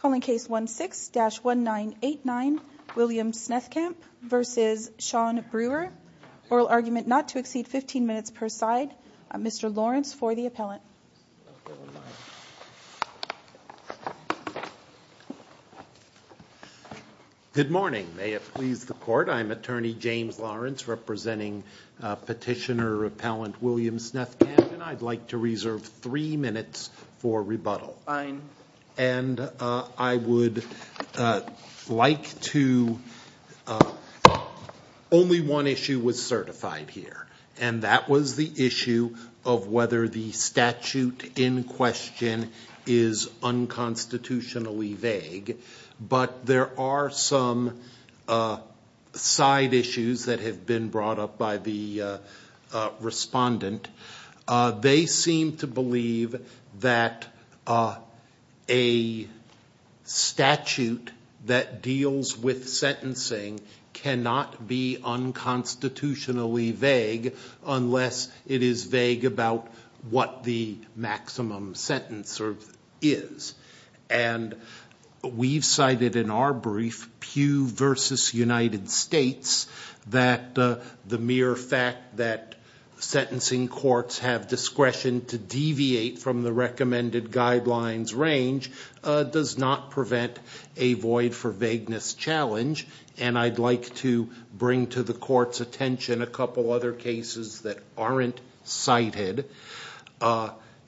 Calling case 1 6-1 9 8 9 William Snethkamp vs. Shawn Brewer Oral argument not to exceed 15 minutes per side. I'm mr. Lawrence for the appellant Good morning, may it please the court. I'm attorney James Lawrence representing Petitioner repellent William Snethkamp, and I'd like to reserve three minutes for rebuttal. I'm I would Like to Only one issue was certified here and that was the issue of whether the statute in question is Unconstitutionally vague, but there are some Side issues that have been brought up by the Respondent they seem to believe that A Statute that deals with sentencing cannot be Unconstitutionally vague unless it is vague about what the maximum sentence or is and We've cited in our brief pew versus United States that the mere fact that Discretion to deviate from the recommended guidelines range Does not prevent a void for vagueness challenge And I'd like to bring to the court's attention a couple other cases that aren't cited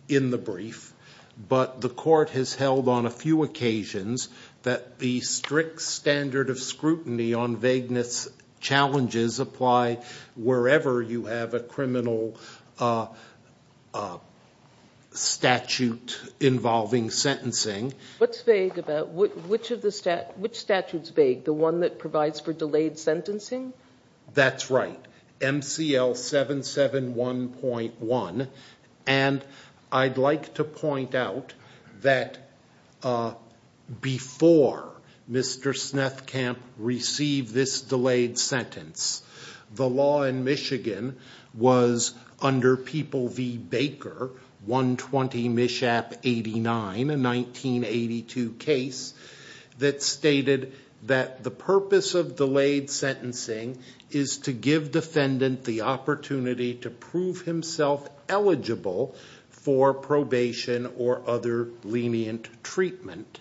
in the brief But the court has held on a few occasions that the strict standard of scrutiny on vagueness challenges apply Wherever you have a criminal Statute Involving sentencing what's vague about which of the stat which statutes vague the one that provides for delayed sentencing? That's right MCL 77 1.1 and I'd like to point out that Before Mr. Snethkamp Received this delayed sentence the law in Michigan was Under people V Baker 120 mishap 89 in 1982 case That stated that the purpose of delayed sentencing is to give defendant the opportunity to prove himself eligible for probation or other lenient treatment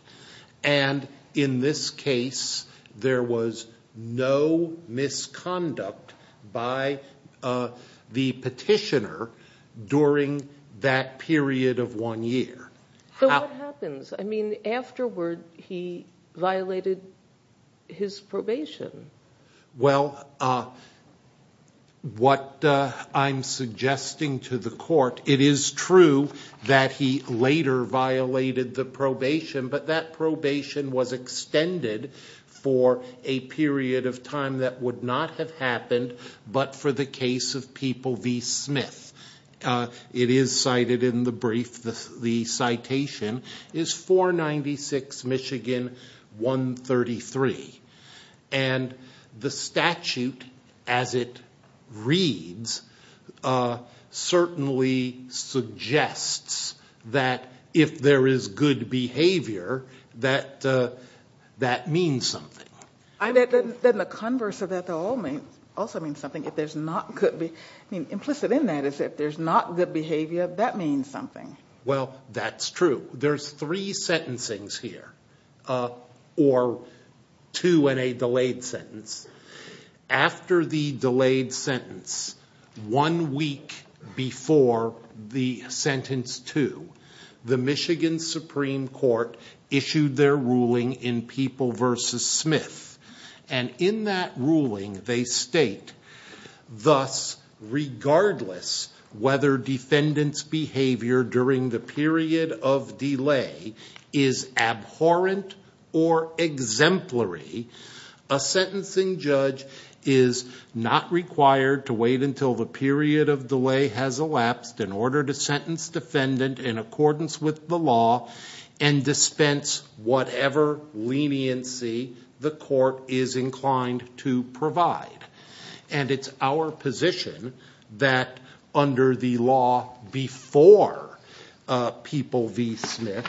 and In this case there was no misconduct by The petitioner During that period of one year Happens, I mean afterward he violated his probation well What I'm Suggesting to the court it is true that he later violated the probation But that probation was extended for a period of time that would not have happened but for the case of people V Smith It is cited in the brief the the citation is 496 Michigan 133 and The statute as it reads Certainly Suggests that if there is good behavior that That means something I bet then the converse of that all means also means something if there's not could be Implicit in that is that there's not good behavior. That means something. Well, that's true. There's three sentencing's here or two and a delayed sentence after the delayed sentence one week before the sentence to The Michigan Supreme Court Issued their ruling in people versus Smith and in that ruling they state thus regardless whether defendants behavior during the period of delay is abhorrent or exemplary a sentencing judge is not required to wait until the period of delay has elapsed in order to sentence defendant in accordance with the law and dispense whatever leniency the court is inclined to provide and it's our position that under the law before People V Smith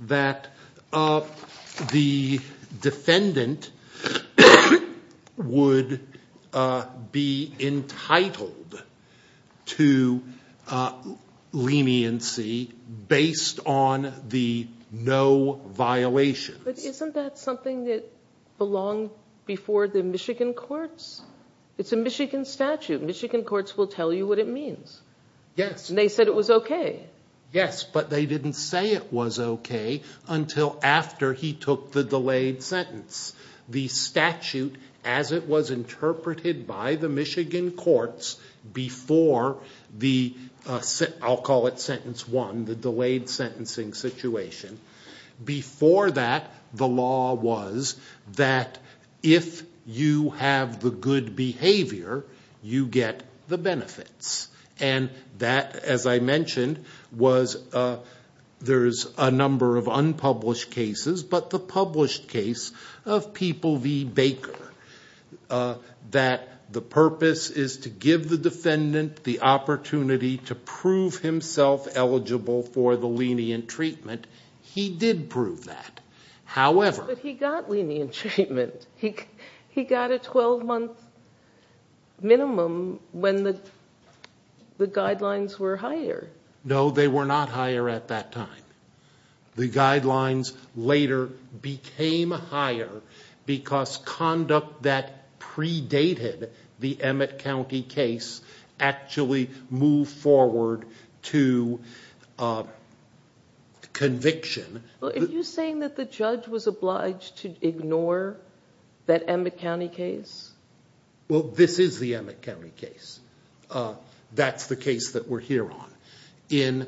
that of the defendant Would be entitled to Leniency based on the no Violation, but isn't that something that belonged before the Michigan courts? It's a Michigan statute Michigan courts will tell you what it means. Yes, and they said it was okay Yes, but they didn't say it was okay until after he took the delayed sentence the statute as it was interpreted by the Michigan courts before the I'll call it sentence one the delayed sentencing situation before that the law was that if you have the good behavior you get the benefits and that as I mentioned was There's a number of unpublished cases, but the published case of people V Baker That the purpose is to give the defendant the opportunity to prove himself Eligible for the lenient treatment. He did prove that However, he got lenient treatment. He he got a 12-month minimum when the The guidelines were higher. No, they were not higher at that time the guidelines later became higher because conduct that predated the Emmett County case actually move forward to Conviction are you saying that the judge was obliged to ignore that Emmett County case? Well, this is the Emmett County case That's the case that we're here on in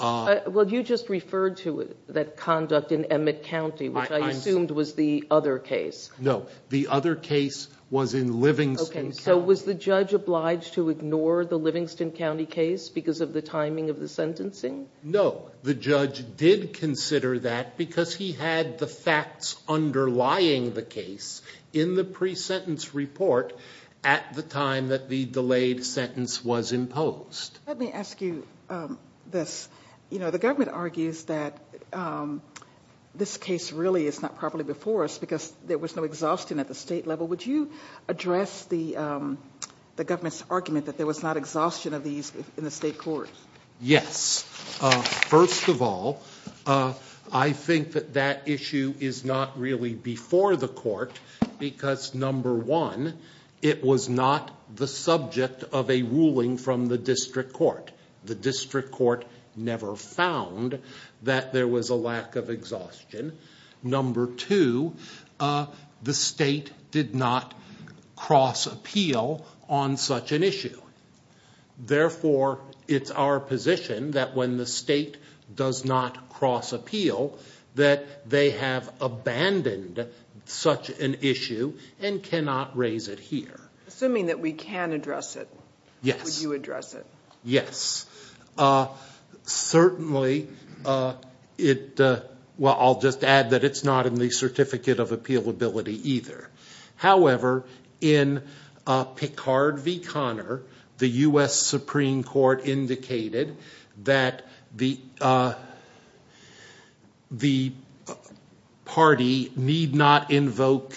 Well, you just referred to it that conduct in Emmett County, which I assumed was the other case No The other case was in Livingston So was the judge obliged to ignore the Livingston County case because of the timing of the sentencing? No, the judge did consider that because he had the facts Let me ask you this, you know the government argues that This case really is not properly before us because there was no exhaustion at the state level. Would you address the The government's argument that there was not exhaustion of these in the state courts. Yes first of all, I Think that that issue is not really before the court because number one It was not the subject of a ruling from the district court the district court never found That there was a lack of exhaustion number two The state did not cross appeal on such an issue Therefore it's our position that when the state does not cross appeal that they have Abandoned such an issue and cannot raise it here assuming that we can address it. Yes Yes Certainly It well, I'll just add that it's not in the Certificate of Appeal ability either however in Picard v Connor the US Supreme Court indicated that the The Party need not invoke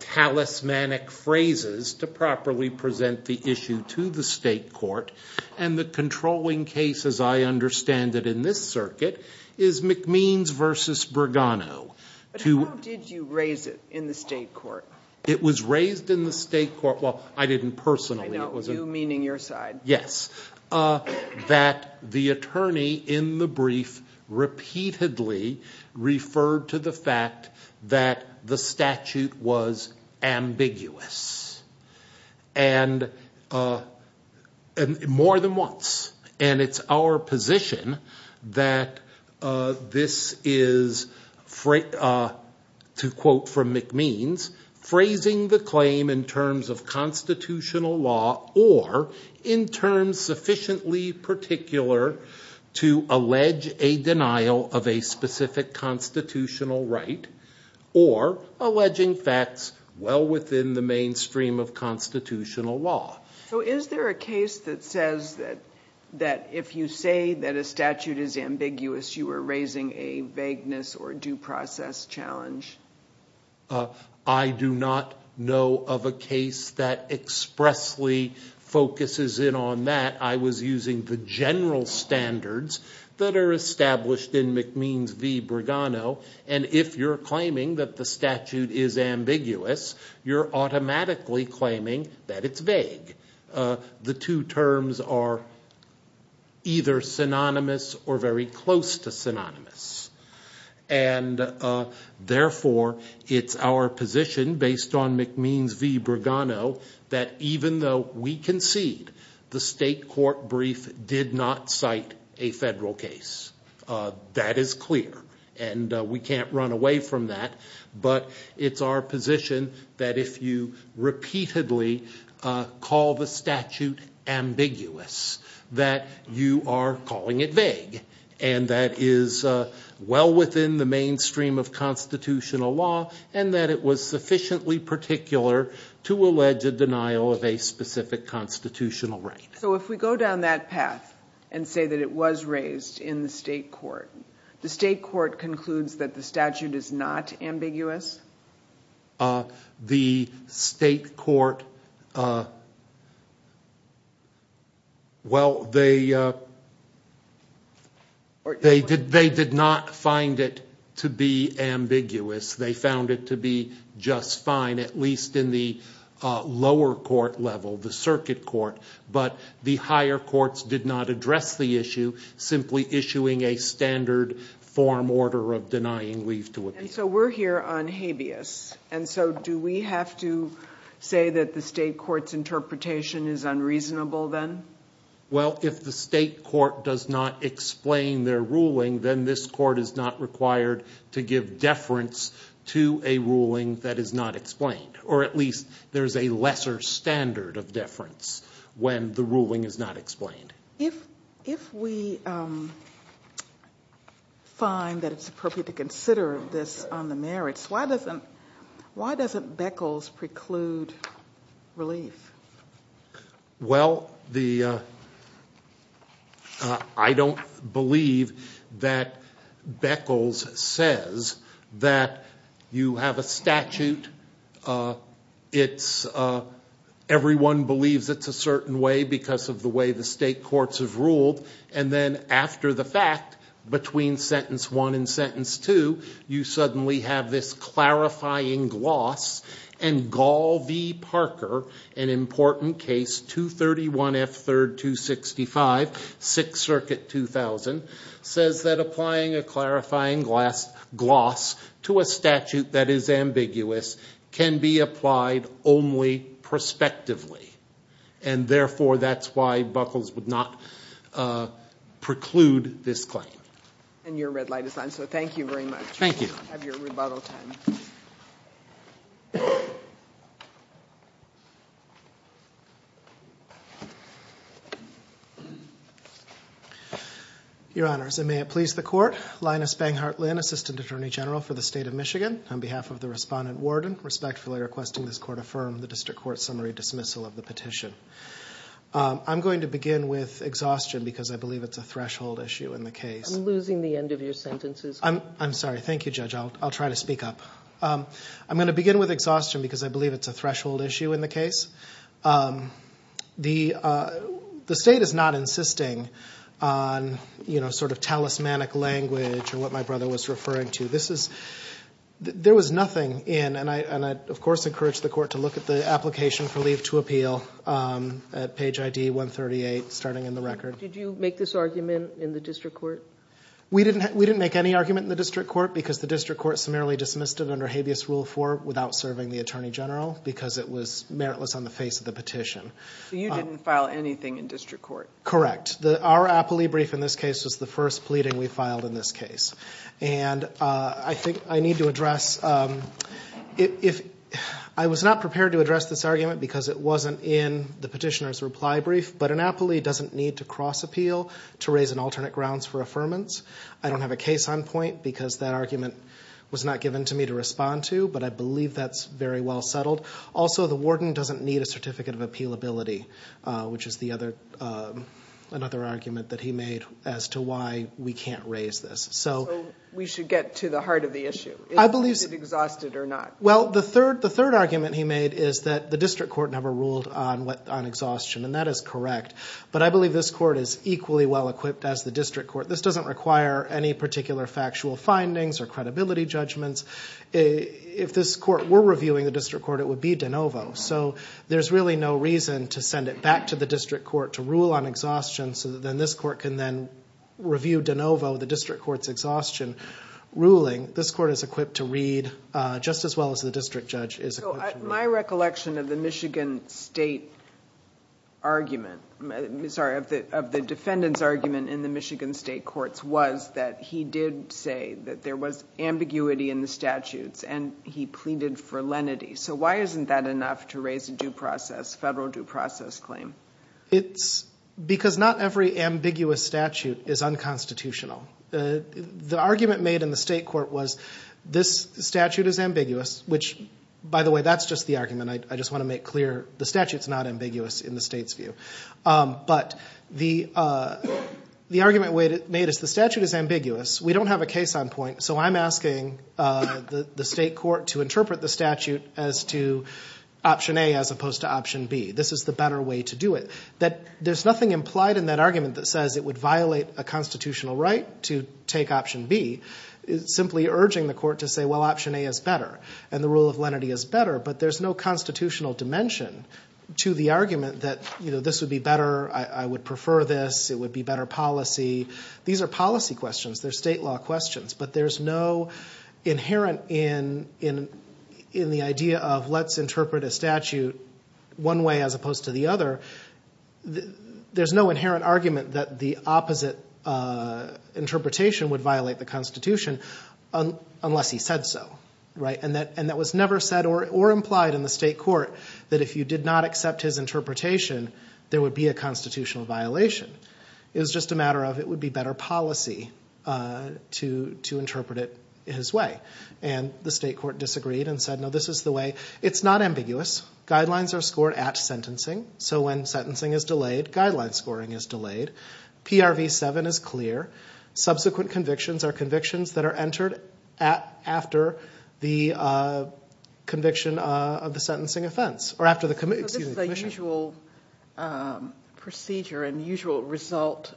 Talismanic phrases to properly present the issue to the state court and the controlling cases I understand that in this circuit is McMeans versus Bergano Who did you raise it in the state court? It was raised in the state court. Well, I didn't personally it was a meaning your side Yes That the attorney in the brief Repeatedly referred to the fact that the statute was ambiguous and More than once and it's our position that this is freight to quote from McMeans phrasing the claim in terms of constitutional law or in terms sufficiently particular To allege a denial of a specific constitutional right or Alleging facts well within the mainstream of constitutional law So is there a case that says that that if you say that a statute is ambiguous? You were raising a vagueness or due process challenge I do not know of a case that expressly Focuses in on that I was using the general standards that are established in McMeans v Bergano and if you're claiming that the statute is ambiguous you're automatically claiming that it's vague the two terms are either synonymous or very close to synonymous and Therefore it's our position based on McMeans v Bergano that even though we concede The state court brief did not cite a federal case That is clear and we can't run away from that. But it's our position that if you repeatedly Call the statute ambiguous That you are calling it vague and that is Well within the mainstream of Constitutional law and that it was sufficiently particular to allege a denial of a specific Constitutional right. So if we go down that path and say that it was raised in the state court The state court concludes that the statute is not ambiguous The state court Well, they They did they did not find it to be ambiguous they found it to be just fine at least in the Lower court level the circuit court, but the higher courts did not address the issue Simply issuing a standard form order of denying leave to it. So we're here on habeas And so do we have to say that the state courts interpretation is unreasonable then? Well, if the state court does not explain their ruling then this court is not required to give deference To a ruling that is not explained or at least there's a lesser standard of deference when the ruling is not explained if if we Find that it's appropriate to consider this on the merits. Why doesn't why doesn't Beckles preclude relief? Well the I Don't believe that Beckles says that you have a statute it's Everyone believes it's a certain way because of the way the state courts have ruled and then after the fact between sentence one and sentence two you suddenly have this clarifying gloss and Gaul v Parker an important case 231 F 3rd 265 6th Circuit 2000 says that applying a clarifying glass gloss to a statute that is ambiguous Can be applied only prospectively and Therefore that's why buckles would not Preclude this claim and your red light is on so thank you very much. Thank you Your Honors and may it please the court Linus bang heartland assistant attorney general for the state of Michigan on behalf of the respondent warden respectfully requesting this court affirm the district court summary dismissal of the petition I'm going to begin with exhaustion because I believe it's a threshold issue in the case losing the end of your sentences I'm I'm sorry. Thank you judge. I'll try to speak up I'm going to begin with exhaustion because I believe it's a threshold issue in the case The The state is not insisting on You know sort of talismanic language or what my brother was referring to this is There was nothing in and I and I of course encouraged the court to look at the application for leave to appeal At page ID 138 starting in the record. Did you make this argument in the district court? We didn't we didn't make any argument in the district court because the district court summarily dismissed it under habeas rule for without serving the Attorney general because it was meritless on the face of the petition So you didn't file anything in district court, correct? the our appellee brief in this case was the first pleading we filed in this case and I think I need to address If I was not prepared to address this argument because it wasn't in the petitioner's reply brief But an appellee doesn't need to cross appeal to raise an alternate grounds for affirmance I don't have a case on point because that argument was not given to me to respond to but I believe that's very well settled Also, the warden doesn't need a certificate of appeal ability Which is the other? Another argument that he made as to why we can't raise this So we should get to the heart of the issue. I believe it exhausted or not Well, the third the third argument he made is that the district court never ruled on what on exhaustion and that is correct But I believe this court is equally well equipped as the district court This doesn't require any particular factual findings or credibility judgments If this court were reviewing the district court, it would be de novo So there's really no reason to send it back to the district court to rule on exhaustion. So then this court can then Review de novo the district courts exhaustion ruling this court is equipped to read Just as well as the district judge is my recollection of the Michigan State Argument, I'm sorry of the of the defendants argument in the Michigan State courts Was that he did say that there was ambiguity in the statutes and he pleaded for lenity So why isn't that enough to raise a due process federal due process claim? It's Because not every ambiguous statute is unconstitutional The argument made in the state court was this statute is ambiguous which by the way, that's just the argument I just want to make clear the statutes not ambiguous in the state's view but the The argument way that made us the statute is ambiguous. We don't have a case on point. So I'm asking the the state court to interpret the statute as to Option a as opposed to option B This is the better way to do it that there's nothing implied in that argument that says it would violate a constitutional right To take option B is simply urging the court to say well option a is better and the rule of lenity is better But there's no constitutional dimension to the argument that you know, this would be better. I would prefer this it would be better policy These are policy questions. They're state law questions, but there's no Inherent in in in the idea of let's interpret a statute one way as opposed to the other There's no inherent argument that the opposite Interpretation would violate the Constitution Unless he said so right and that and that was never said or implied in the state court that if you did not accept his Interpretation there would be a constitutional violation. It was just a matter of it would be better policy To to interpret it his way and the state court disagreed and said no, this is the way it's not ambiguous Guidelines are scored at sentencing. So when sentencing is delayed guidelines scoring is delayed PRV 7 is clear subsequent convictions are convictions that are entered at after the Conviction of the sentencing offense or after the commission Procedure and usual result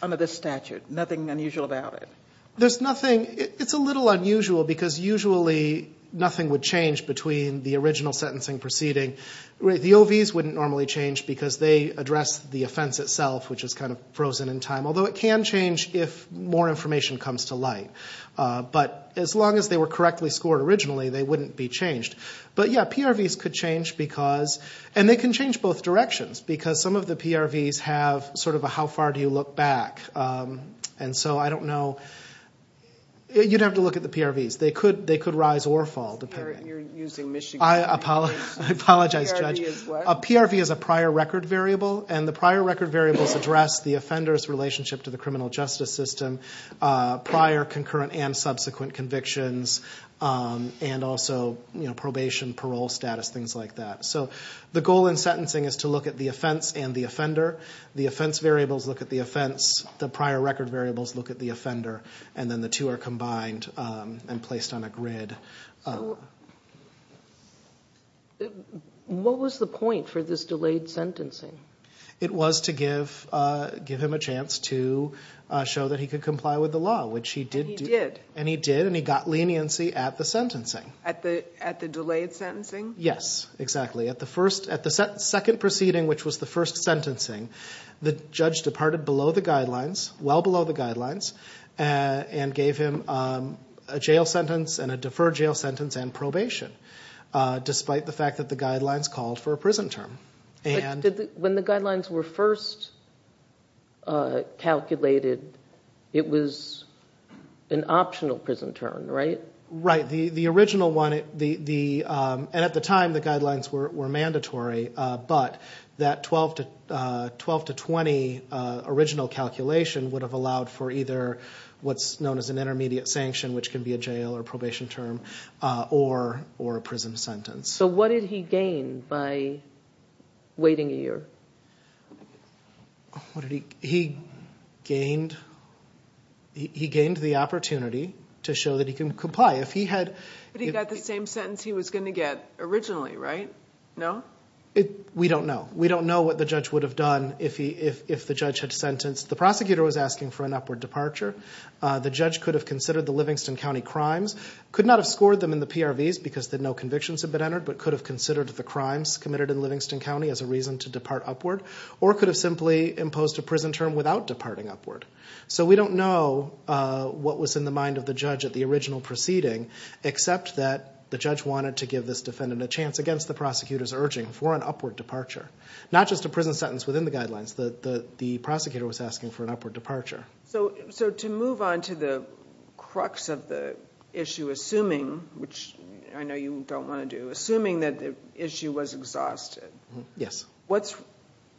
under this statute nothing unusual about it There's nothing it's a little unusual because usually nothing would change between the original sentencing proceeding The OVS wouldn't normally change because they address the offense itself, which is kind of frozen in time Although it can change if more information comes to light But as long as they were correctly scored originally, they wouldn't be changed But yeah PRVs could change because and they can change both directions because some of the PRVs have sort of a how far do you look back? And so I don't know You'd have to look at the PRVs. They could they could rise or fall to pay you're using mission. I Apologize judge a PRV is a prior record variable and the prior record variables address the offenders relationship to the criminal justice system prior concurrent and subsequent convictions And also, you know probation parole status things like that So the goal in sentencing is to look at the offense and the offender the offense variables look at the offense The prior record variables look at the offender and then the two are combined and placed on a grid What was the point for this delayed sentencing it was to give give him a chance to Show that he could comply with the law which he did and he did and he got leniency at the sentencing at the at the Delayed sentencing. Yes, exactly at the first at the second proceeding which was the first sentencing the judge departed below the guidelines well below the guidelines and Gave him a jail sentence and a deferred jail sentence and probation Despite the fact that the guidelines called for a prison term and when the guidelines were first Calculated it was An optional prison term, right? right the the original one the the and at the time the guidelines were mandatory, but that 12 to 12 to 20 original calculation would have allowed for either what's known as an intermediate sanction, which can be a jail or probation term or Prison sentence. So what did he gain by? waiting a year What did he he gained He gained the opportunity to show that he can comply if he had but he got the same sentence He was going to get originally right? No, it we don't know We don't know what the judge would have done if he if the judge had sentenced the prosecutor was asking for an upward departure The judge could have considered the Livingston County crimes could not have scored them in the PRVs because that no convictions have been entered But could have considered the crimes committed in Livingston County as a reason to depart upward or could have simply imposed a prison term without Departing upward so we don't know What was in the mind of the judge at the original proceeding? Except that the judge wanted to give this defendant a chance against the prosecutors urging for an upward departure Not just a prison sentence within the guidelines that the the prosecutor was asking for an upward departure so so to move on to the Crux of the issue assuming which I know you don't want to do assuming that the issue was exhausted Yes What's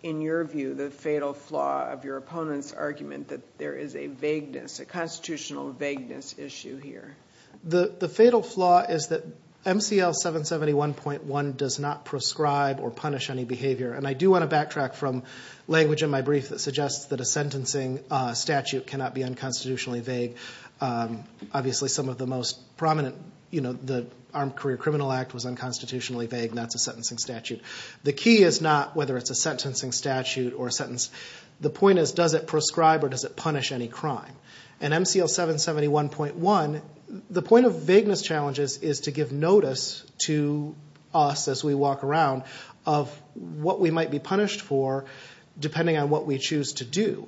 in your view the fatal flaw of your opponent's argument that there is a vagueness a constitutional vagueness? Issue here the the fatal flaw is that MCL 771.1 does not prescribe or punish any behavior and I do want to backtrack from Language in my brief that suggests that a sentencing statute cannot be unconstitutionally vague Obviously some of the most prominent, you know, the Armed Career Criminal Act was unconstitutionally vague That's a sentencing statute The key is not whether it's a sentencing statute or sentence The point is does it prescribe or does it punish any crime and MCL 771.1? the point of vagueness challenges is to give notice to us as we walk around of What we might be punished for? depending on what we choose to do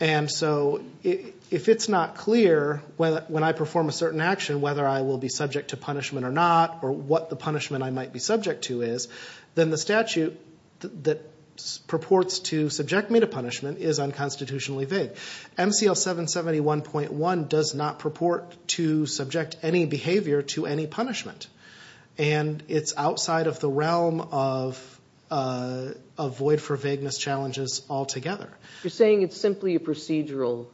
and So if it's not clear when I perform a certain action whether I will be subject to punishment or not Or what the punishment I might be subject to is then the statute that purports to subject me to punishment is unconstitutionally vague MCL 771.1 does not purport to subject any behavior to any punishment and it's outside of the realm of Avoid for vagueness challenges altogether. You're saying it's simply a procedural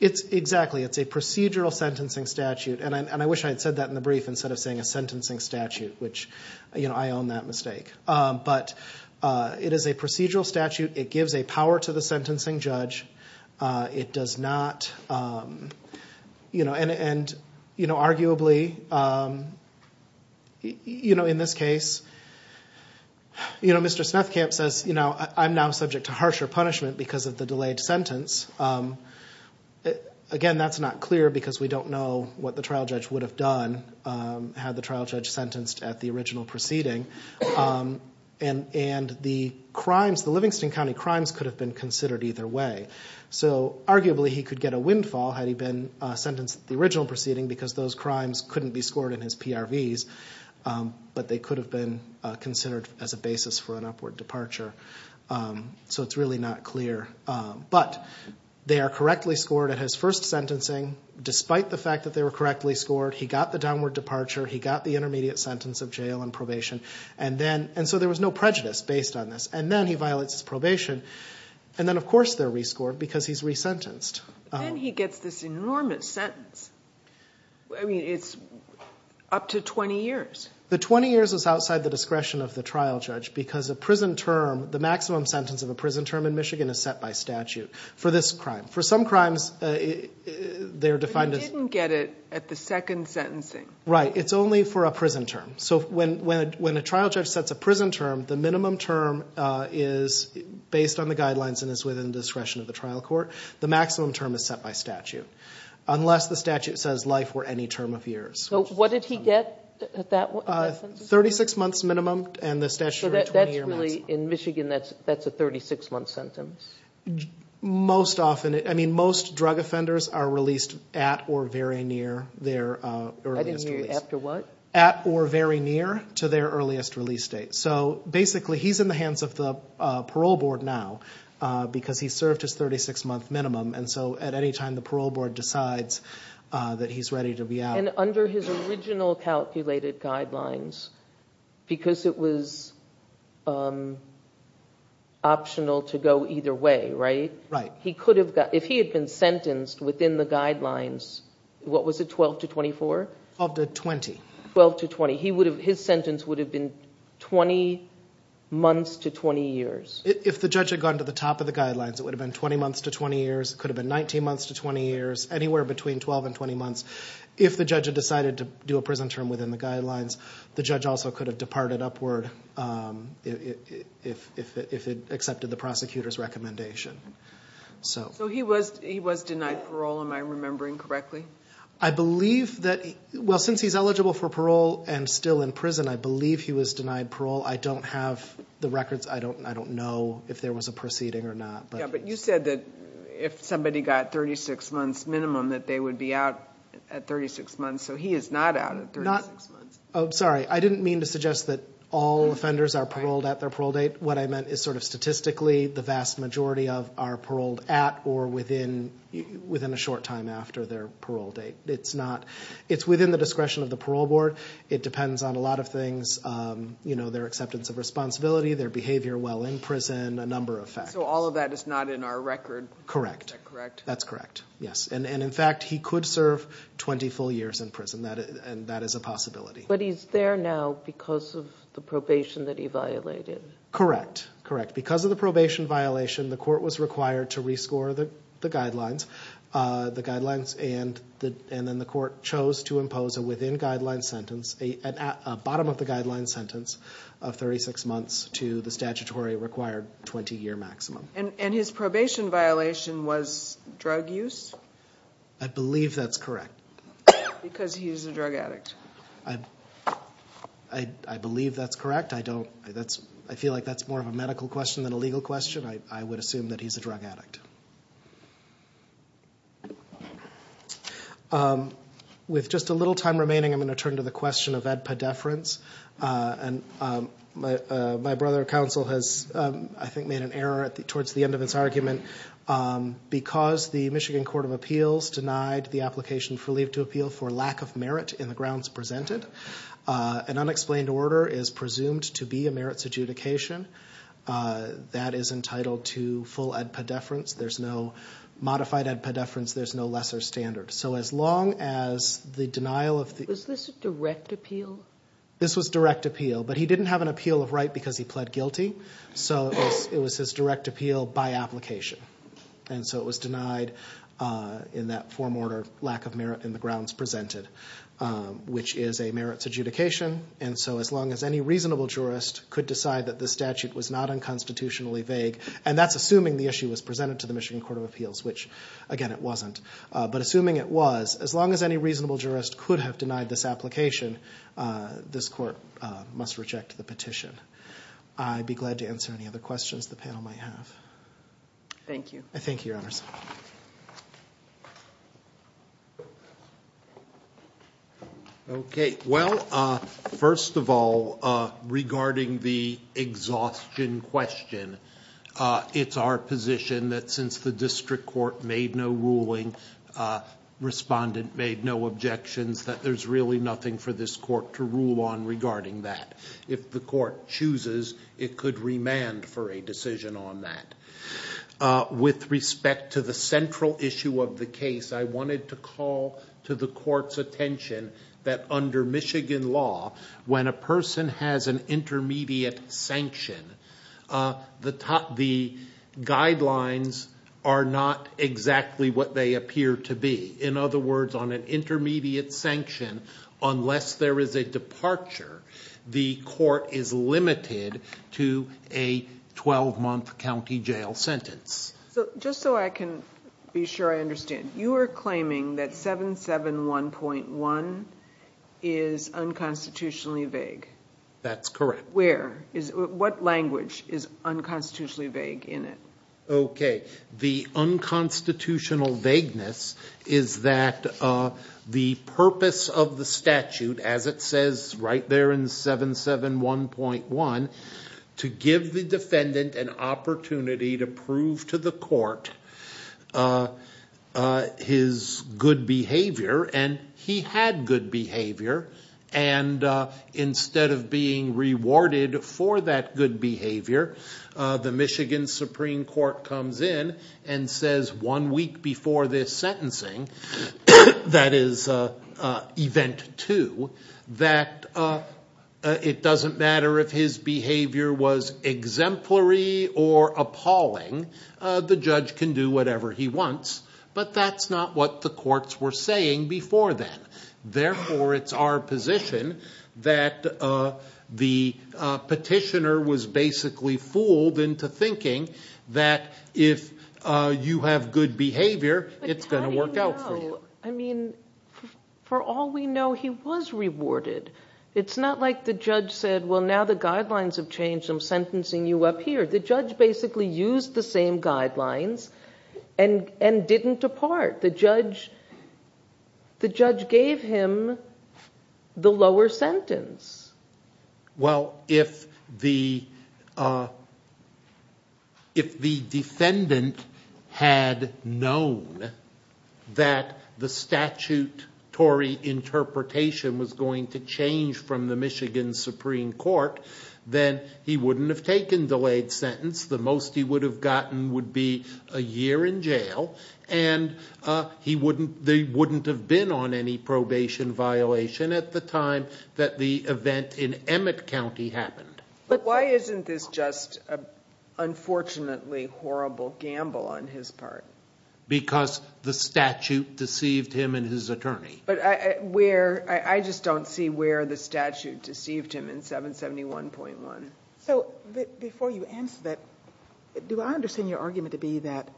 It's exactly it's a procedural sentencing statute and I wish I had said that in the brief instead of saying a sentencing statute which you know, I own that mistake, but It is a procedural statute. It gives a power to the sentencing judge It does not You know and and you know arguably You know in this case You know, Mr. Snethkamp says, you know, I'm now subject to harsher punishment because of the delayed sentence Again that's not clear because we don't know what the trial judge would have done Had the trial judge sentenced at the original proceeding And and the crimes the Livingston County crimes could have been considered either way So arguably he could get a windfall had he been sentenced the original proceeding because those crimes couldn't be scored in his PRVs But they could have been considered as a basis for an upward departure So it's really not clear But they are correctly scored at his first sentencing despite the fact that they were correctly scored. He got the downward departure He got the intermediate sentence of jail and probation and then and so there was no prejudice based on this and then he violates his probation And then of course, they're rescored because he's resentenced and he gets this enormous sentence. I mean it's Up to 20 years. The 20 years is outside the discretion of the trial judge because a prison term the maximum sentence of a prison term In Michigan is set by statute for this crime for some crimes They're defined as didn't get it at the second sentencing, right? It's only for a prison term. So when when when a trial judge sets a prison term the minimum term is Based on the guidelines and is within the discretion of the trial court. The maximum term is set by statute Unless the statute says life for any term of years. So what did he get that? 36 months minimum and the statute that's really in Michigan. That's that's a 36 month sentence Most often it I mean most drug offenders are released at or very near their After what at or very near to their earliest release date. So basically he's in the hands of the parole board now Because he served his 36 month minimum and so at any time the parole board decides That he's ready to be out and under his original calculated guidelines because it was Optional to go either way right right he could have got if he had been sentenced within the guidelines What was it 12 to 24 of the 20 12 to 20? He would have his sentence would have been 20 Months to 20 years if the judge had gone to the top of the guidelines It would have been 20 months to 20 years could have been 19 months to 20 years Anywhere between 12 and 20 months if the judge had decided to do a prison term within the guidelines The judge also could have departed upward If if it accepted the prosecutors recommendation So so he was he was denied parole. Am I remembering correctly? I believe that well since he's eligible for parole and still in prison I believe he was denied parole. I don't have the records I don't I don't know if there was a proceeding or not But you said that if somebody got 36 months minimum that they would be out at 36 months So he is not out of not. Oh, sorry I didn't mean to suggest that all Offenders are paroled at their parole date what I meant is sort of statistically the vast majority of our paroled at or within Within a short time after their parole date. It's not it's within the discretion of the parole board It depends on a lot of things, you know, their acceptance of responsibility their behavior Well in prison a number of facts. So all of that is not in our record, correct, correct? That's correct Yes, and and in fact, he could serve 20 full years in prison that and that is a possibility But he's there now because of the probation that he violated Correct, correct because of the probation violation the court was required to rescore the the guidelines the guidelines and the and then the court chose to impose a within guideline sentence a bottom of the guideline sentence of 36 months to the statutory required 20-year maximum and and his probation violation was drug use. I Believe that's correct Because he's a drug addict. I I Believe that's correct. I don't that's I feel like that's more of a medical question than a legal question I would assume that he's a drug addict With Just a little time remaining I'm going to turn to the question of edpa deference and My my brother counsel has I think made an error at the towards the end of its argument Because the Michigan Court of Appeals denied the application for leave to appeal for lack of merit in the grounds presented An unexplained order is presumed to be a merits adjudication That is entitled to full edpa deference. There's no Modified edpa deference. There's no lesser standard. So as long as the denial of the is this a direct appeal This was direct appeal, but he didn't have an appeal of right because he pled guilty So it was his direct appeal by application and so it was denied In that form order lack of merit in the grounds presented Which is a merits adjudication and so as long as any reasonable jurist could decide that the statute was not unconstitutionally vague and that's assuming the issue was presented to The Michigan Court of Appeals which again it wasn't but assuming it was as long as any reasonable jurist could have denied this application This court must reject the petition. I'd be glad to answer any other questions the panel might have Thank you. I think your honors Okay, well first of all regarding the exhaustion question It's our position that since the district court made no ruling Respondent made no objections that there's really nothing for this court to rule on regarding that if the court chooses It could remand for a decision on that With respect to the central issue of the case I wanted to call to the court's attention that under Michigan law when a person has an intermediate sanction the top the Guidelines are not exactly what they appear to be in other words on an intermediate sanction Unless there is a departure the court is limited to a 12 month County Jail sentence so just so I can be sure I understand you are claiming that 7 7 1.1 is Unconstitutionally vague that's correct. Where is what language is unconstitutionally vague in it, okay? the unconstitutional vagueness is that The purpose of the statute as it says right there in 7 7 1.1 To give the defendant an opportunity to prove to the court His good behavior and he had good behavior and instead of being rewarded for that good behavior The Michigan Supreme Court comes in and says one week before this sentencing that is event to that It doesn't matter if his behavior was exemplary or Therefore it's our position that the petitioner was basically fooled into thinking that if You have good behavior. It's going to work out. I mean For all we know he was rewarded. It's not like the judge said well now the guidelines have changed I'm sentencing you up here the judge basically used the same guidelines and And didn't depart the judge The judge gave him the lower sentence well if the If the defendant had known that the statute Torrey Interpretation was going to change from the Michigan Supreme Court then he wouldn't have taken delayed sentence the most he would have gotten would be a year in jail and He wouldn't they wouldn't have been on any probation Violation at the time that the event in Emmett County happened, but why isn't this just a unfortunately horrible gamble on his part Because the statute deceived him in his attorney But I where I just don't see where the statute deceived him in 771.1 so before you answer that Do I understand your argument to be that?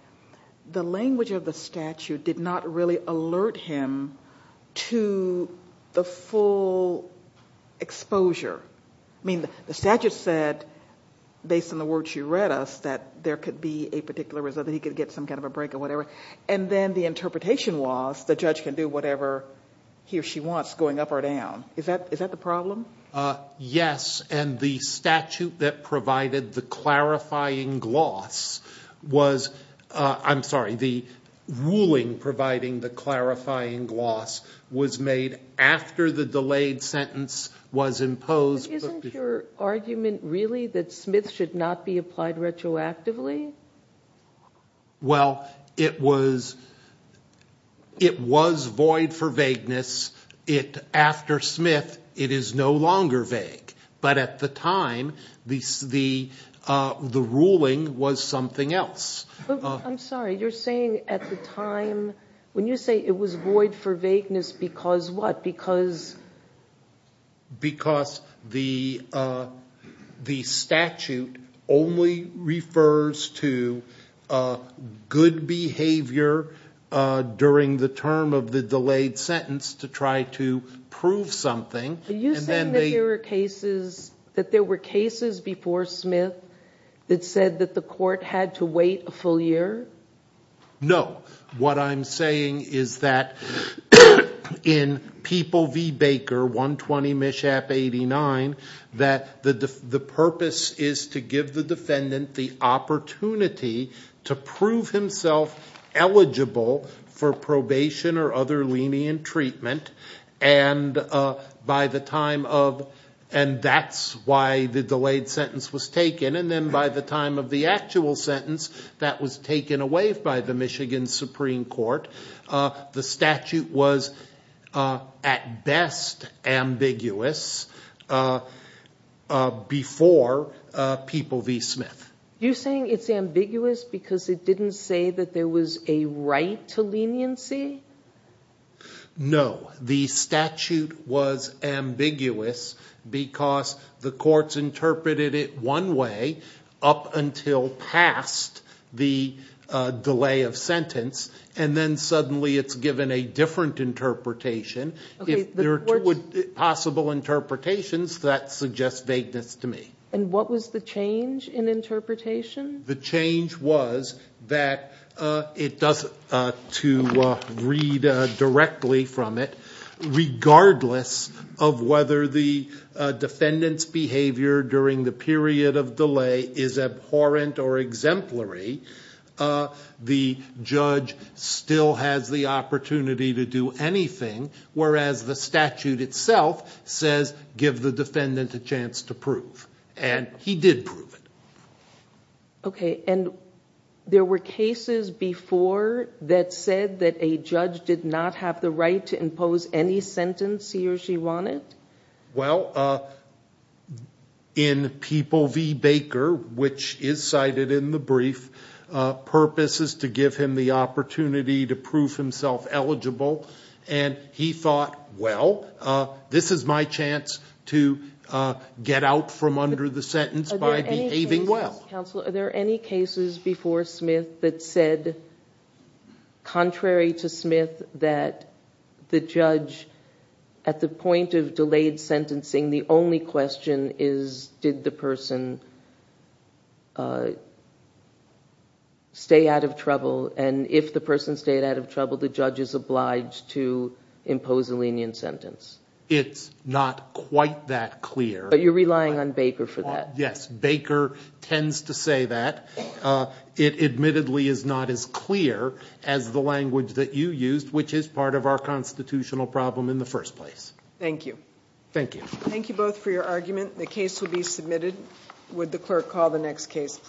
The language of the statute did not really alert him to the full exposure I mean the statute said Based on the words you read us that there could be a particular result He could get some kind of a break or whatever and then the interpretation was the judge can do whatever He or she wants going up or down is that is that the problem? Yes, and the statute that provided the clarifying gloss Was I'm sorry the Ruling providing the clarifying gloss was made after the delayed sentence was imposed Argument really that Smith should not be applied retroactively well, it was It was void for vagueness it after Smith it is no longer vague but at the time the the Ruling was something else I'm sorry. You're saying at the time when you say it was void for vagueness because what because Because the the statute only refers to Good behavior During the term of the delayed sentence to try to prove something Cases that there were cases before Smith that said that the court had to wait a full year No, what I'm saying is that in people V Baker 120 mishap 89 that the the purpose is to give the defendant the opportunity to prove himself eligible for probation or other lenient treatment and By the time of and that's why the delayed sentence was taken and then by the time of the actual sentence That was taken away by the Michigan Supreme Court the statute was at best ambiguous Before People V Smith you're saying it's ambiguous because it didn't say that there was a right to leniency No, the statute was ambiguous because the courts interpreted it one way up until past the delay of sentence and then suddenly it's given a different interpretation if there would possible Interpretations that suggest vagueness to me and what was the change in interpretation? the change was that it doesn't to Rita directly from it regardless of whether the Defendants behavior during the period of delay is abhorrent or exemplary the judge Still has the opportunity to do anything Whereas the statute itself says give the defendant a chance to prove and he did prove it okay, and There were cases before That said that a judge did not have the right to impose any sentence. He or she wanted well In people V Baker, which is cited in the brief Purpose is to give him the opportunity to prove himself eligible and he thought well this is my chance to Get out from under the sentence by behaving well, are there any cases before Smith that said Contrary to Smith that the judge At the point of delayed sentencing. The only question is did the person Stay out of trouble and if the person stayed out of trouble the judge is obliged to Not quite that clear, but you're relying on Baker for that. Yes Baker tends to say that It admittedly is not as clear as the language that you used which is part of our constitutional problem in the first place Thank you. Thank you. Thank you both for your argument. The case will be submitted. Would the clerk call the next case, please?